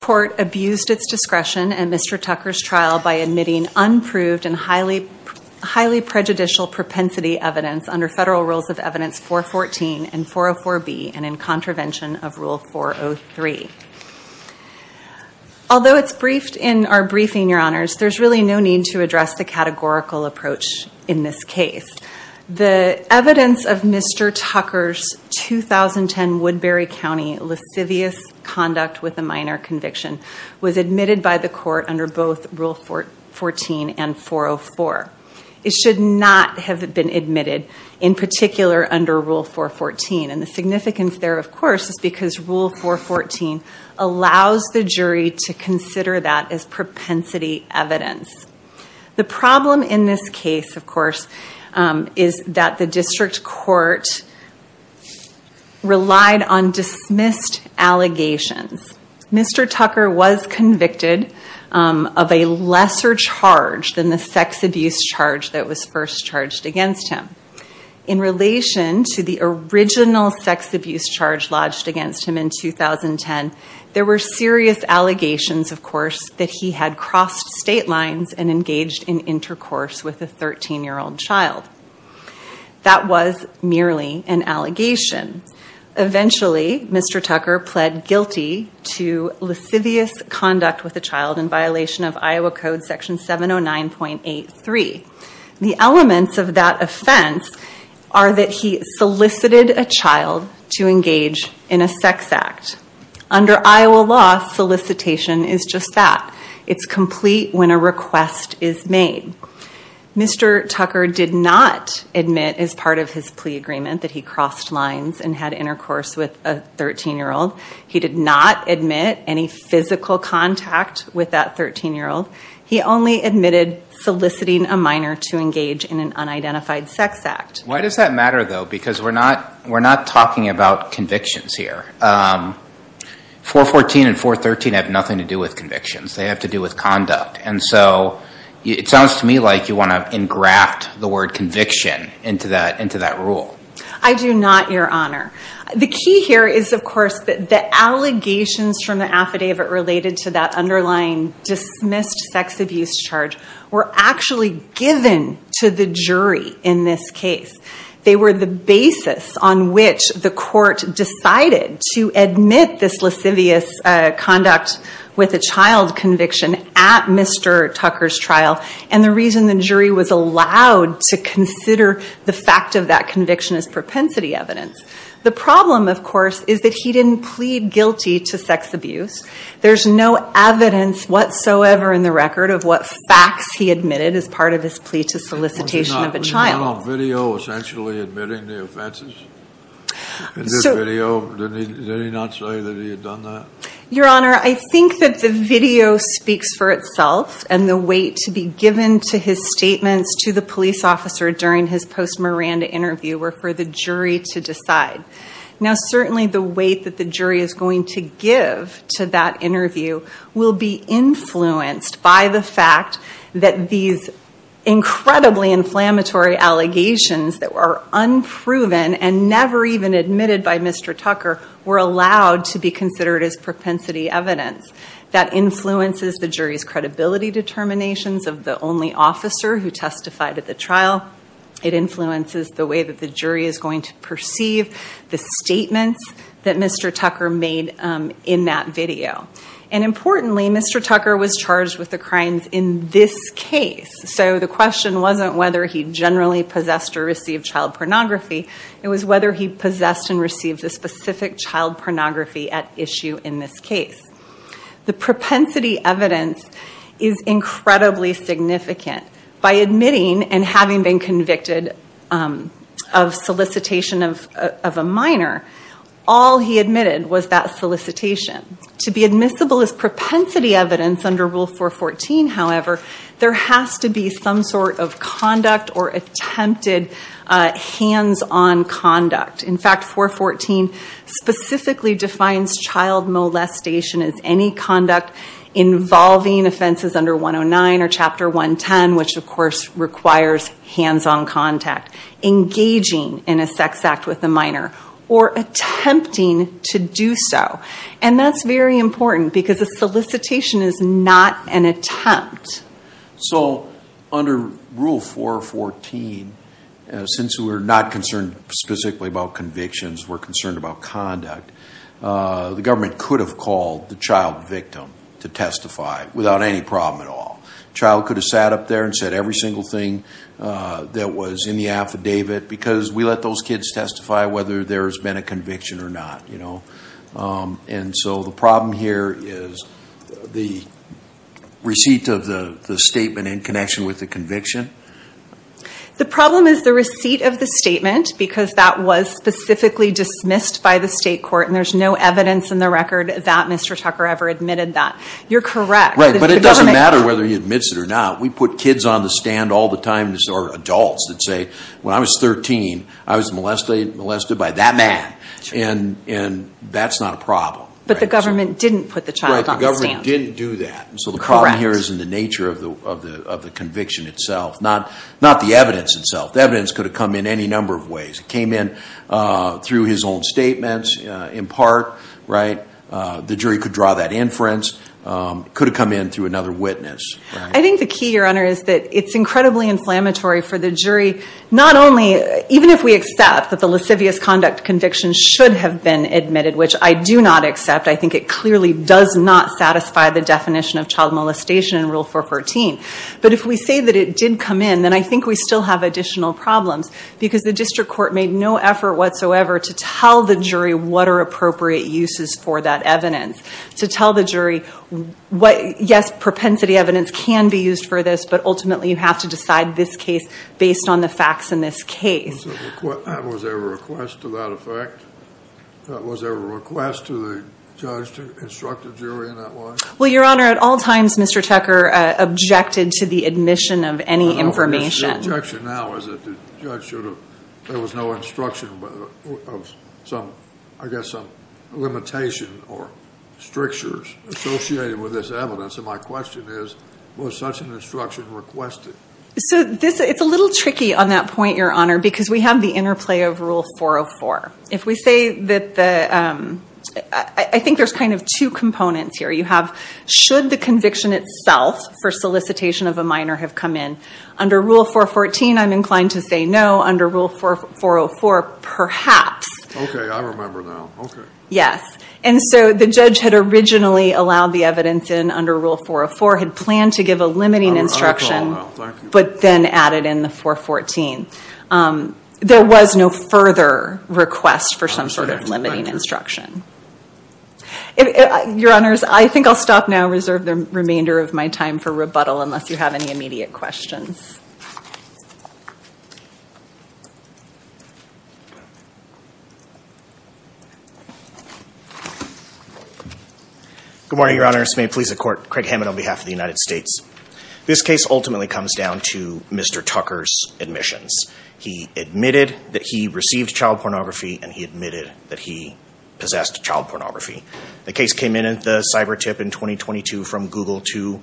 court abused its discretion at Mr. Tucker's trial by admitting unproved and highly prejudicial propensity evidence under Federal Rules of Evidence 414 and 404B and in contravention of Rule 403. Although it's briefed in our briefing, Your Honors, there's really no need to address the categorical approach in this case. The evidence of Mr. Tucker's 2010 Woodbury County lascivious conduct with a minor conviction was admitted by the court under both Rule 414 and 404. It should not have been admitted, in particular, under Rule 414. And the significance there, of course, is because Rule 414 allows the jury to consider that as propensity evidence. The problem in this case, of course, is that the district court relied on dismissed allegations. Mr. Tucker was convicted of a lesser charge than the sex abuse charge that was first charged against him. In relation to the original sex abuse charge lodged against him in 2010, there were serious allegations, of course, that he had crossed state lines and engaged in intercourse with a 13-year-old child. That was merely an allegation. Eventually, Mr. Tucker pled guilty to lascivious conduct with a child in violation of Iowa Code Section 709.83. The elements of that are that he solicited a child to engage in a sex act. Under Iowa law, solicitation is just that. It's complete when a request is made. Mr. Tucker did not admit as part of his plea agreement that he crossed lines and had intercourse with a 13-year-old. He did not admit any physical contact with that 13-year-old. He only admitted soliciting a minor to engage in an unidentified sex act. Why does that matter, though? Because we're not talking about convictions here. 414 and 413 have nothing to do with convictions. They have to do with conduct. It sounds to me like you want to engraft the word conviction into that rule. I do not, Your Honor. The key here is, of course, the allegations from the affidavit related to that underlying dismissed sex abuse charge were actually given to the jury in this case. They were the basis on which the court decided to admit this lascivious conduct with a child conviction at Mr. Tucker's trial. The reason the jury was allowed to consider the fact of that conviction as propensity evidence. The problem, of course, is that he didn't plead guilty to sex abuse. There's no evidence whatsoever in the record of what facts he admitted as part of his plea to solicitation of a child. Was he not on video essentially admitting the offenses? Did he not say that he had done that? Your Honor, I think that the video speaks for itself and the weight to be given to his statements to the police officer during his post-Miranda interview were for the jury to decide. Now, certainly the weight that the jury is going to give to that interview will be influenced by the fact that these incredibly inflammatory allegations that were unproven and never even admitted by Mr. Tucker were allowed to be considered as propensity evidence. That influences the jury's credibility determinations of the only officer who testified at the trial. It influences the way that the jury is going to perceive the statements that Mr. Tucker made in that video. And importantly, Mr. Tucker was charged with the crimes in this case. So the question wasn't whether he generally possessed or received child pornography. It was whether he possessed and received a specific child pornography at issue in this case. The propensity evidence is incredibly significant. By admitting and having been convicted of solicitation of a minor, all he admitted was that solicitation. To be admissible as propensity evidence under Rule 414, however, there has to be some sort of conduct or attempted hands-on conduct. In fact, 414 specifically defines child molestation as any conduct involving offenses under 109 or Chapter 110, which of course requires hands-on contact, engaging in a sex act with a minor, or attempting to do so. And that's very important because a solicitation is not an attempt. So under Rule 414, since we're not concerned specifically about convictions, we're concerned about conduct, the government could have called the child victim to testify without any problem at all. The child could have sat up there and said every single thing that was in the affidavit because we let those kids testify whether there has been a conviction or not, you know. And so the problem here is the receipt of the statement in connection with the conviction? The problem is the receipt of the statement because that was specifically dismissed by the state court and there's no evidence in the record that Mr. Tucker ever admitted that. You're correct. Right, but it doesn't matter whether he admits it or not. We put kids on the stand all the time, or adults, that say, when I was 13, I was molested by that man. And that's not a problem. But the government didn't put the child on the stand. Right, the government didn't do that. Correct. So the problem here is in the nature of the conviction itself, not the evidence itself. The evidence could have come in any number of ways. It came in through his own statements, in part, right? The jury could draw that inference, could have come in through another witness. I think the key, Your Honor, is that it's incredibly inflammatory for the jury, not only, even if we accept that the lascivious conduct conviction should have been admitted, which I do not accept. I think it clearly does not satisfy the definition of child molestation in Rule 414. But if we say that it did come in, then I think we still have additional problems because the district court made no effort whatsoever to tell the jury what are appropriate uses for that evidence, to tell the jury what, yes, propensity evidence can be used for this, but ultimately you have to decide this case based on the facts in this case. Was there a request to the judge to instruct the jury in that way? Well, Your Honor, at all times, Mr. Tucker objected to the admission of any information. The objection now is that the judge should have, there was no instruction of some, I guess, some limitation or strictures associated with this evidence. And my question is, was such an instruction requested? So it's a little tricky on that point, Your Honor, because we have the interplay of Rule 404. If we say that the, I think there's kind of two components here. You have, should the conviction itself for solicitation of a minor have come in? Under Rule 414, I'm inclined to say no. Under Rule 404, perhaps. Okay, I remember now. Okay. Yes. And so the judge had originally allowed the evidence in under Rule 404, had planned to give a limiting instruction, but then added in the 414. There was no further request for some sort of limiting instruction. Your Honors, I think I'll stop now, reserve the remainder of my time for rebuttal unless you have any immediate questions. Good morning, Your Honors. May it please the Court. Craig Hammond on behalf of the United States. This case ultimately comes down to Mr. Tucker's admissions. He admitted that he received child pornography and he admitted that he possessed child pornography. The case came in at the cyber tip in 2022 from Google to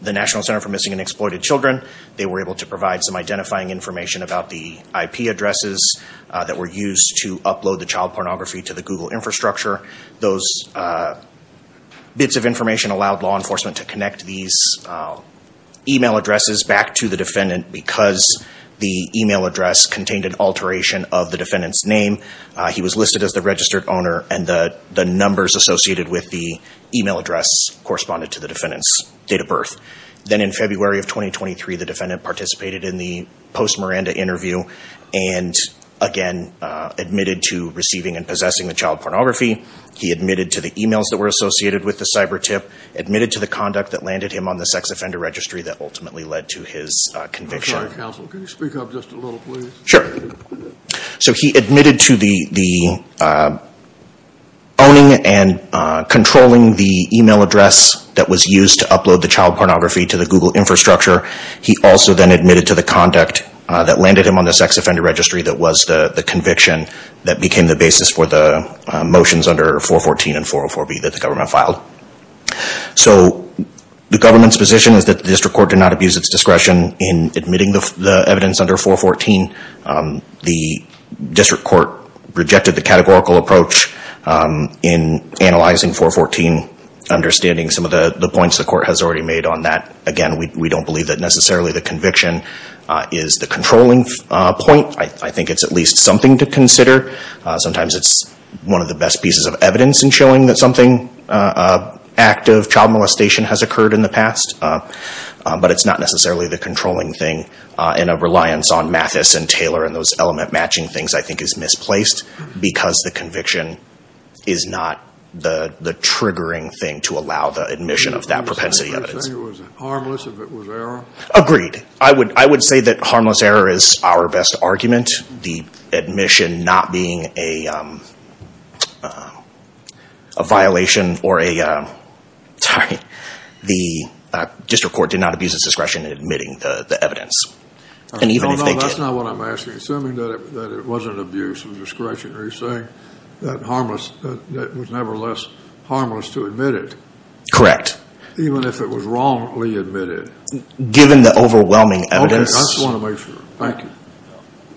the National Center for Missing and Exploited Children. They were able to provide some identifying information about the IP addresses that were used to upload the child pornography to the Google infrastructure. Those bits of information allowed law enforcement to connect these email addresses back to the defendant because the email address contained an alteration of the defendant's name. He was listed as the registered owner and the numbers associated with the email address corresponded to the defendant's date of birth. Then in February of 2023, the pornography. He admitted to the emails that were associated with the cyber tip, admitted to the conduct that landed him on the sex offender registry that ultimately led to his conviction. So he admitted to the owning and controlling the email address that was used to upload the child pornography to the Google infrastructure. He also then admitted to the conduct that landed him on the sex offender registry that was the conviction that became the basis for the motions under 414 and 404B that the government filed. So the government's position is that the district court did not abuse its discretion in admitting the evidence under 414. The district court rejected the categorical approach in analyzing 414, understanding some of the points the court has already made on that. Again, we don't believe that necessarily the conviction is the controlling point. I think it's at least something to consider. Sometimes it's one of the best pieces of evidence in showing that something active, child molestation, has occurred in the past. But it's not necessarily the controlling thing and a reliance on Mathis and Taylor and those element matching things I think is misplaced because the conviction is not the triggering thing to allow the admission of that propensity evidence. You're saying it was harmless if it was error? Agreed. I would say that harmless error is our best argument. The admission not being a violation or a, sorry, the district court did not abuse its discretion in admitting the evidence. And even if they did. That's not what I'm asking. Assuming that it wasn't abuse of discretion. Are you saying that it was nevertheless harmless to admit it? Correct. Even if it was wrongly admitted? Given the overwhelming evidence? I just want to make sure. Thank you.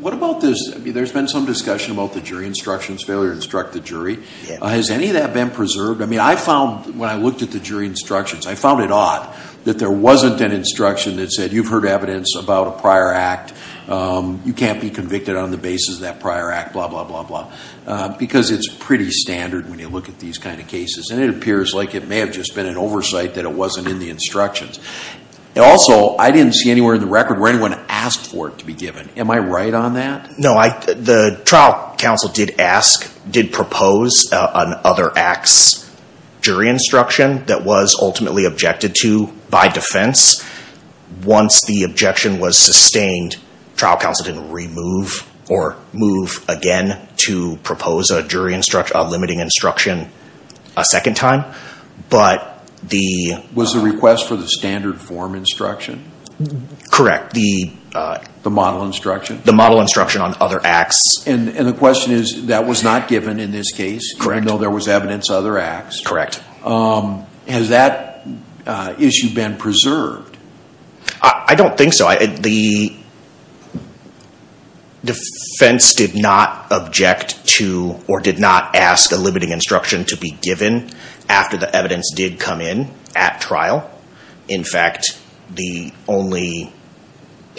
What about this? There's been some discussion about the jury instructions, failure to instruct the jury. Has any of that been preserved? I mean, I found when I looked at the jury instructions, I found it odd that there wasn't an instruction that said you've heard evidence about a prior act. You can't be convicted on the basis of that prior act, blah, blah, blah, blah. Because it's pretty standard when you look at these kind of cases. And it appears like it may have just been an oversight that it wasn't in the instructions. Also, I didn't see anywhere in the record where anyone asked for it to be given. Am I right on that? No. The trial counsel did ask, did propose an other act's jury instruction that was ultimately objected to by defense. Once the objection was sustained, trial counsel didn't remove or move again to propose a jury instruction, a limiting instruction a second time. But the... Was the request for the standard form instruction? Correct. The model instruction? The model instruction on other acts. And the question is, that was not given in this case? Correct. Even though there was evidence other acts? Correct. Has that issue been preserved? I don't think so. The defense did not object to or did not ask a limiting instruction to be given after the evidence did come in at trial. In fact, the only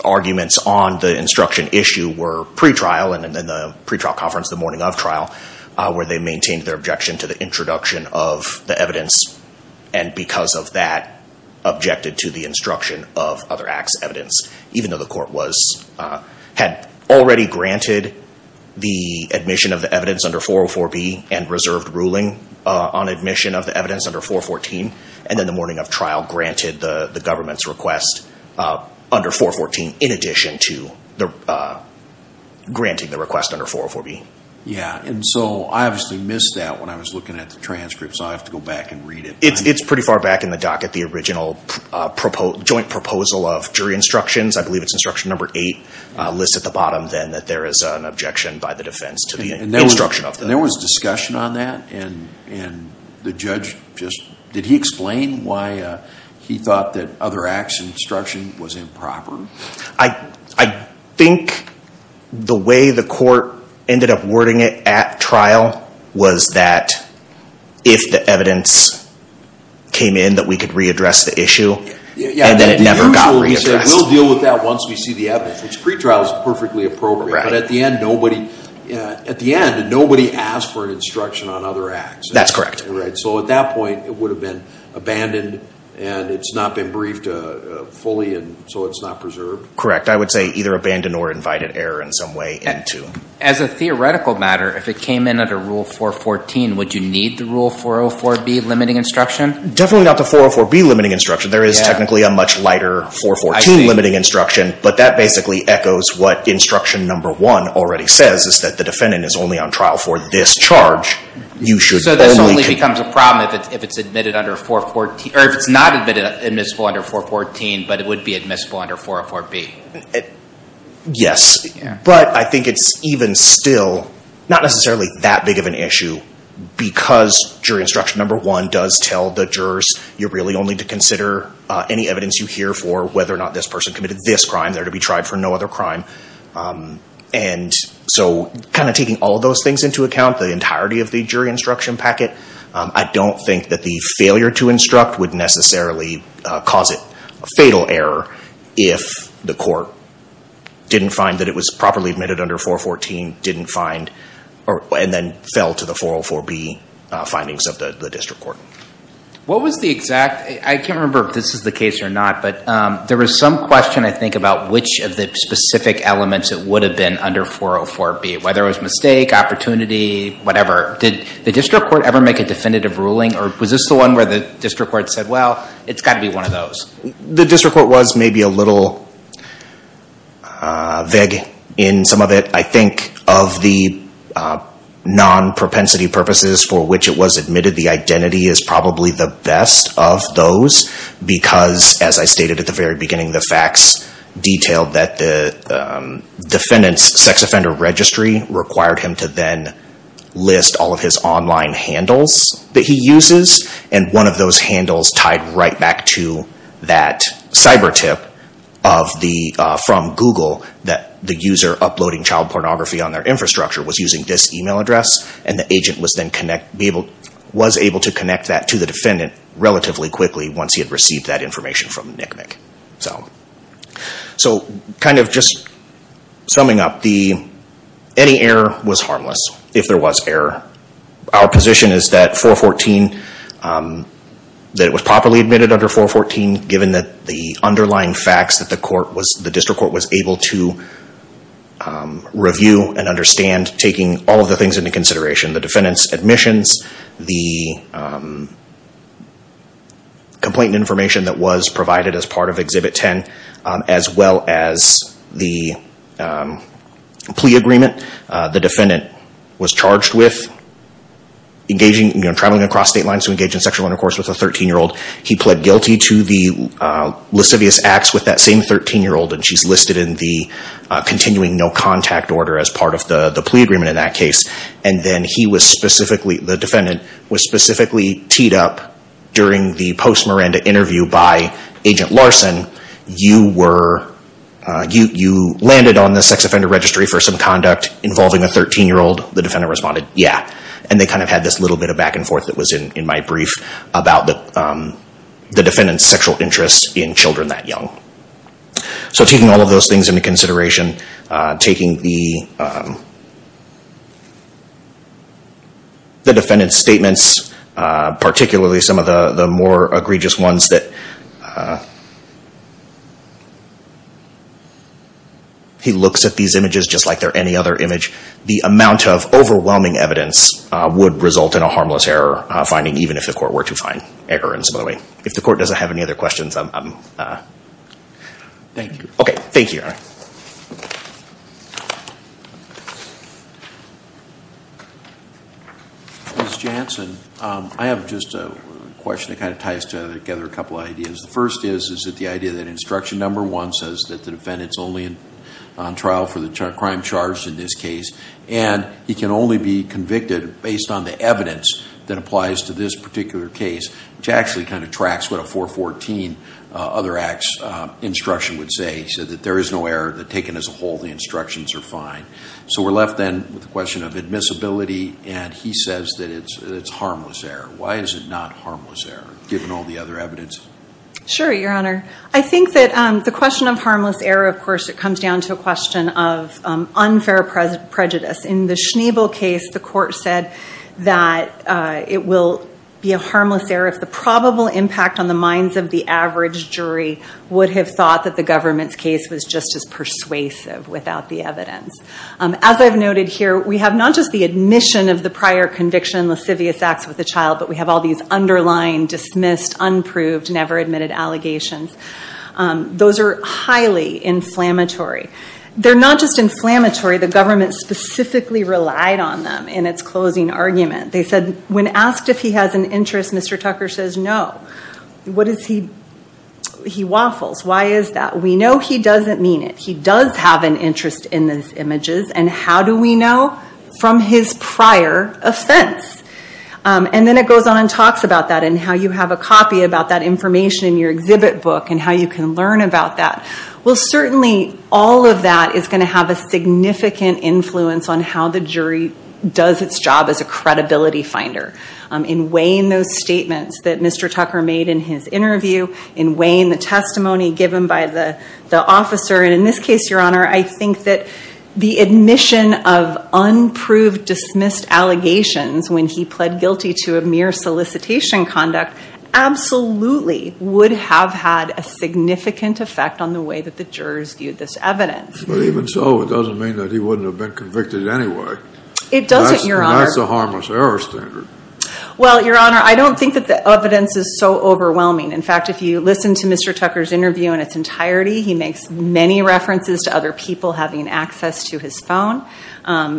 arguments on the instruction issue were pre-trial and then the pre-trial conference the morning of trial where they maintained their objection to the introduction of the evidence. And because of that, objected to the instruction of other acts evidence, even though the court had already granted the admission of the evidence under 404B and reserved ruling on admission of the evidence under 414. And then the morning of trial granted the government's request under 414 in addition to granting the request under 404B. Yeah. And so I obviously missed that when I was looking at the transcript, so I have to go back and read it. It's pretty far back in the docket. The original joint proposal of jury instructions, I believe it's instruction number eight, lists at the bottom then that there is an objection by the defense to the instruction of that. There was discussion on that? And the judge just, did he explain why he thought that other acts instruction was improper? I think the way the court ended up wording it at trial was that if the evidence came in, that we could readdress the issue and then it never got readdressed. We'll deal with that once we see the evidence, which pre-trial is perfectly appropriate. But at the end, nobody asked for an instruction on other acts. That's correct. So at that point, it would have been abandoned and it's not been briefed fully and so it's not preserved? Correct. I would say either abandoned or invited error in some way into. As a theoretical matter, if it came in under rule 414, would you need the rule 404B limiting instruction? Definitely not the 404B limiting instruction. There is technically a much lighter 414 limiting instruction, but that basically echoes what instruction number one already says is that the defendant is only on trial for this charge. So this only becomes a problem if it's admitted under 414, or if it's not admitted admissible under 414, but it would be admissible under 404B. Yes, but I think it's even still not necessarily that big of an issue because jury instruction number one does tell the jurors you're really only to consider any evidence you hear for whether or not this person committed this crime. They're to be tried for no other crime. And so kind of taking all of those things into account, the entirety of the jury instruction packet, I don't think that the failure to instruct would necessarily cause it a fatal error if the court didn't find that it was properly admitted under 414, didn't find, and then fell to the 404B findings of the district court. I can't remember if this is the case or not, but there was some question I think about which of the specific elements it would have been under 404B, whether it was mistake, opportunity, whatever. Did the district court ever make a definitive ruling, or was this the one where the district court said, well, it's got to be one of those? The district court was maybe a little vague in some of it. I think of the non-propensity purposes for which it was admitted, the identity is probably the best of those because, as I stated at the very beginning, the facts detailed that the defendant's sex offender registry required him to then list all of his online handles that he uses, and one of those handles tied right back to that cyber tip from Google that the user uploading child pornography on their infrastructure was using this email address, and the agent was then able to connect that to the defendant relatively quickly once he had received that information from NCMEC. So, kind of just summing up, any error was harmless if there was error. Our position is that 414, that it was properly admitted under 414 given that the underlying facts that the district court was able to review and understand taking all of the things into consideration, the defendant's admissions, the complaint information that was provided as part of Exhibit 10, as well as the plea agreement. The defendant was charged with traveling across state lines to engage in sexual intercourse with a 13-year-old. He pled guilty to the lascivious acts with that same 13-year-old, and she's listed in the continuing no contact order as part of the plea agreement in that case. And then the defendant was specifically teed up during the post-Miranda interview by Agent Larson, you landed on the sex offender registry for some conduct involving a 13-year-old, the defendant responded, yeah. And they kind of had this little bit of back and forth that was in my brief about the defendant's sexual interest in children that young. So taking all of those things into consideration, taking the defendant's statements, particularly some of the more egregious ones that he looks at these images just like they're any other image, the amount of overwhelming evidence would result in a harmless error finding, even if the court were to find errors, by the way. If the court doesn't have any other questions, I'm... Thank you. Okay, thank you. All right. Ms. Jansen, I have just a question that kind of ties together a couple of ideas. The first is, is that the idea that instruction number one says that the defendant's only on trial for the crime charged in this case, and he can only be convicted based on the evidence that applies to this particular case, which actually kind of tracks what a 414 other acts instruction would say. He said that there is no error, that taken as a whole, the instructions are fine. So we're left then with the question of admissibility, and he says that it's harmless error. Why is it not harmless error, given all the other evidence? Sure, Your Honor. I think that the question of harmless error, of course, it comes down to a question of unfair prejudice. In the Schneebel case, the court said that it will be a harmless error if the probable impact on the minds of the average jury would have thought that the government's case was just as persuasive without the evidence. As I've noted here, we have not just the admission of the prior conviction, lascivious acts with the child, but we have all these underlying, dismissed, unproved, never admitted allegations. Those are highly inflammatory. They're not just inflammatory, the government specifically relied on them in its closing argument. When asked if he has an interest, Mr. Tucker says no. He waffles. Why is that? We know he doesn't mean it. He does have an interest in these images, and how do we know? From his prior offense. And then it goes on and talks about that, and how you have a copy about that information in your exhibit book, and how you can learn about that. Well, certainly all of that is going to have a significant influence on how the jury does its job as a credibility finder. In weighing those statements that Mr. Tucker made in his interview, in weighing the testimony given by the officer, and in this case, your honor, I think that the admission of unproved, dismissed allegations when he pled guilty to a mere solicitation conduct absolutely would have had a significant effect on the way that the jurors viewed this evidence. But even so, it doesn't mean that he wouldn't have been convicted anyway. It doesn't, your honor. That's a harmless error standard. Well, your honor, I don't think that the evidence is so overwhelming. In fact, if you listen to Mr. Tucker's interview in its entirety, he makes many references to other people having access to his phone.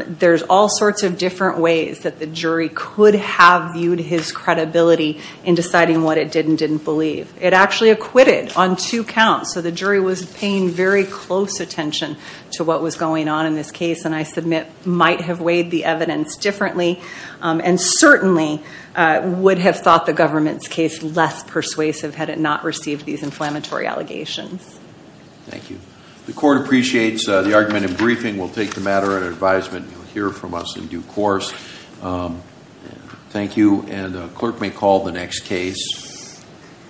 There's all sorts of different ways that the jury could have viewed his credibility in deciding what it did and didn't believe. It actually acquitted on two counts, so the jury was paying very close attention to what was going on in this case, and I submit might have weighed the evidence differently, and certainly would have thought the government's case less persuasive had it not received these inflammatory allegations. Thank you. The court appreciates the argument in briefing. We'll take the matter at advisement. You'll hear from us in due course. Thank you, and the clerk may call the next case.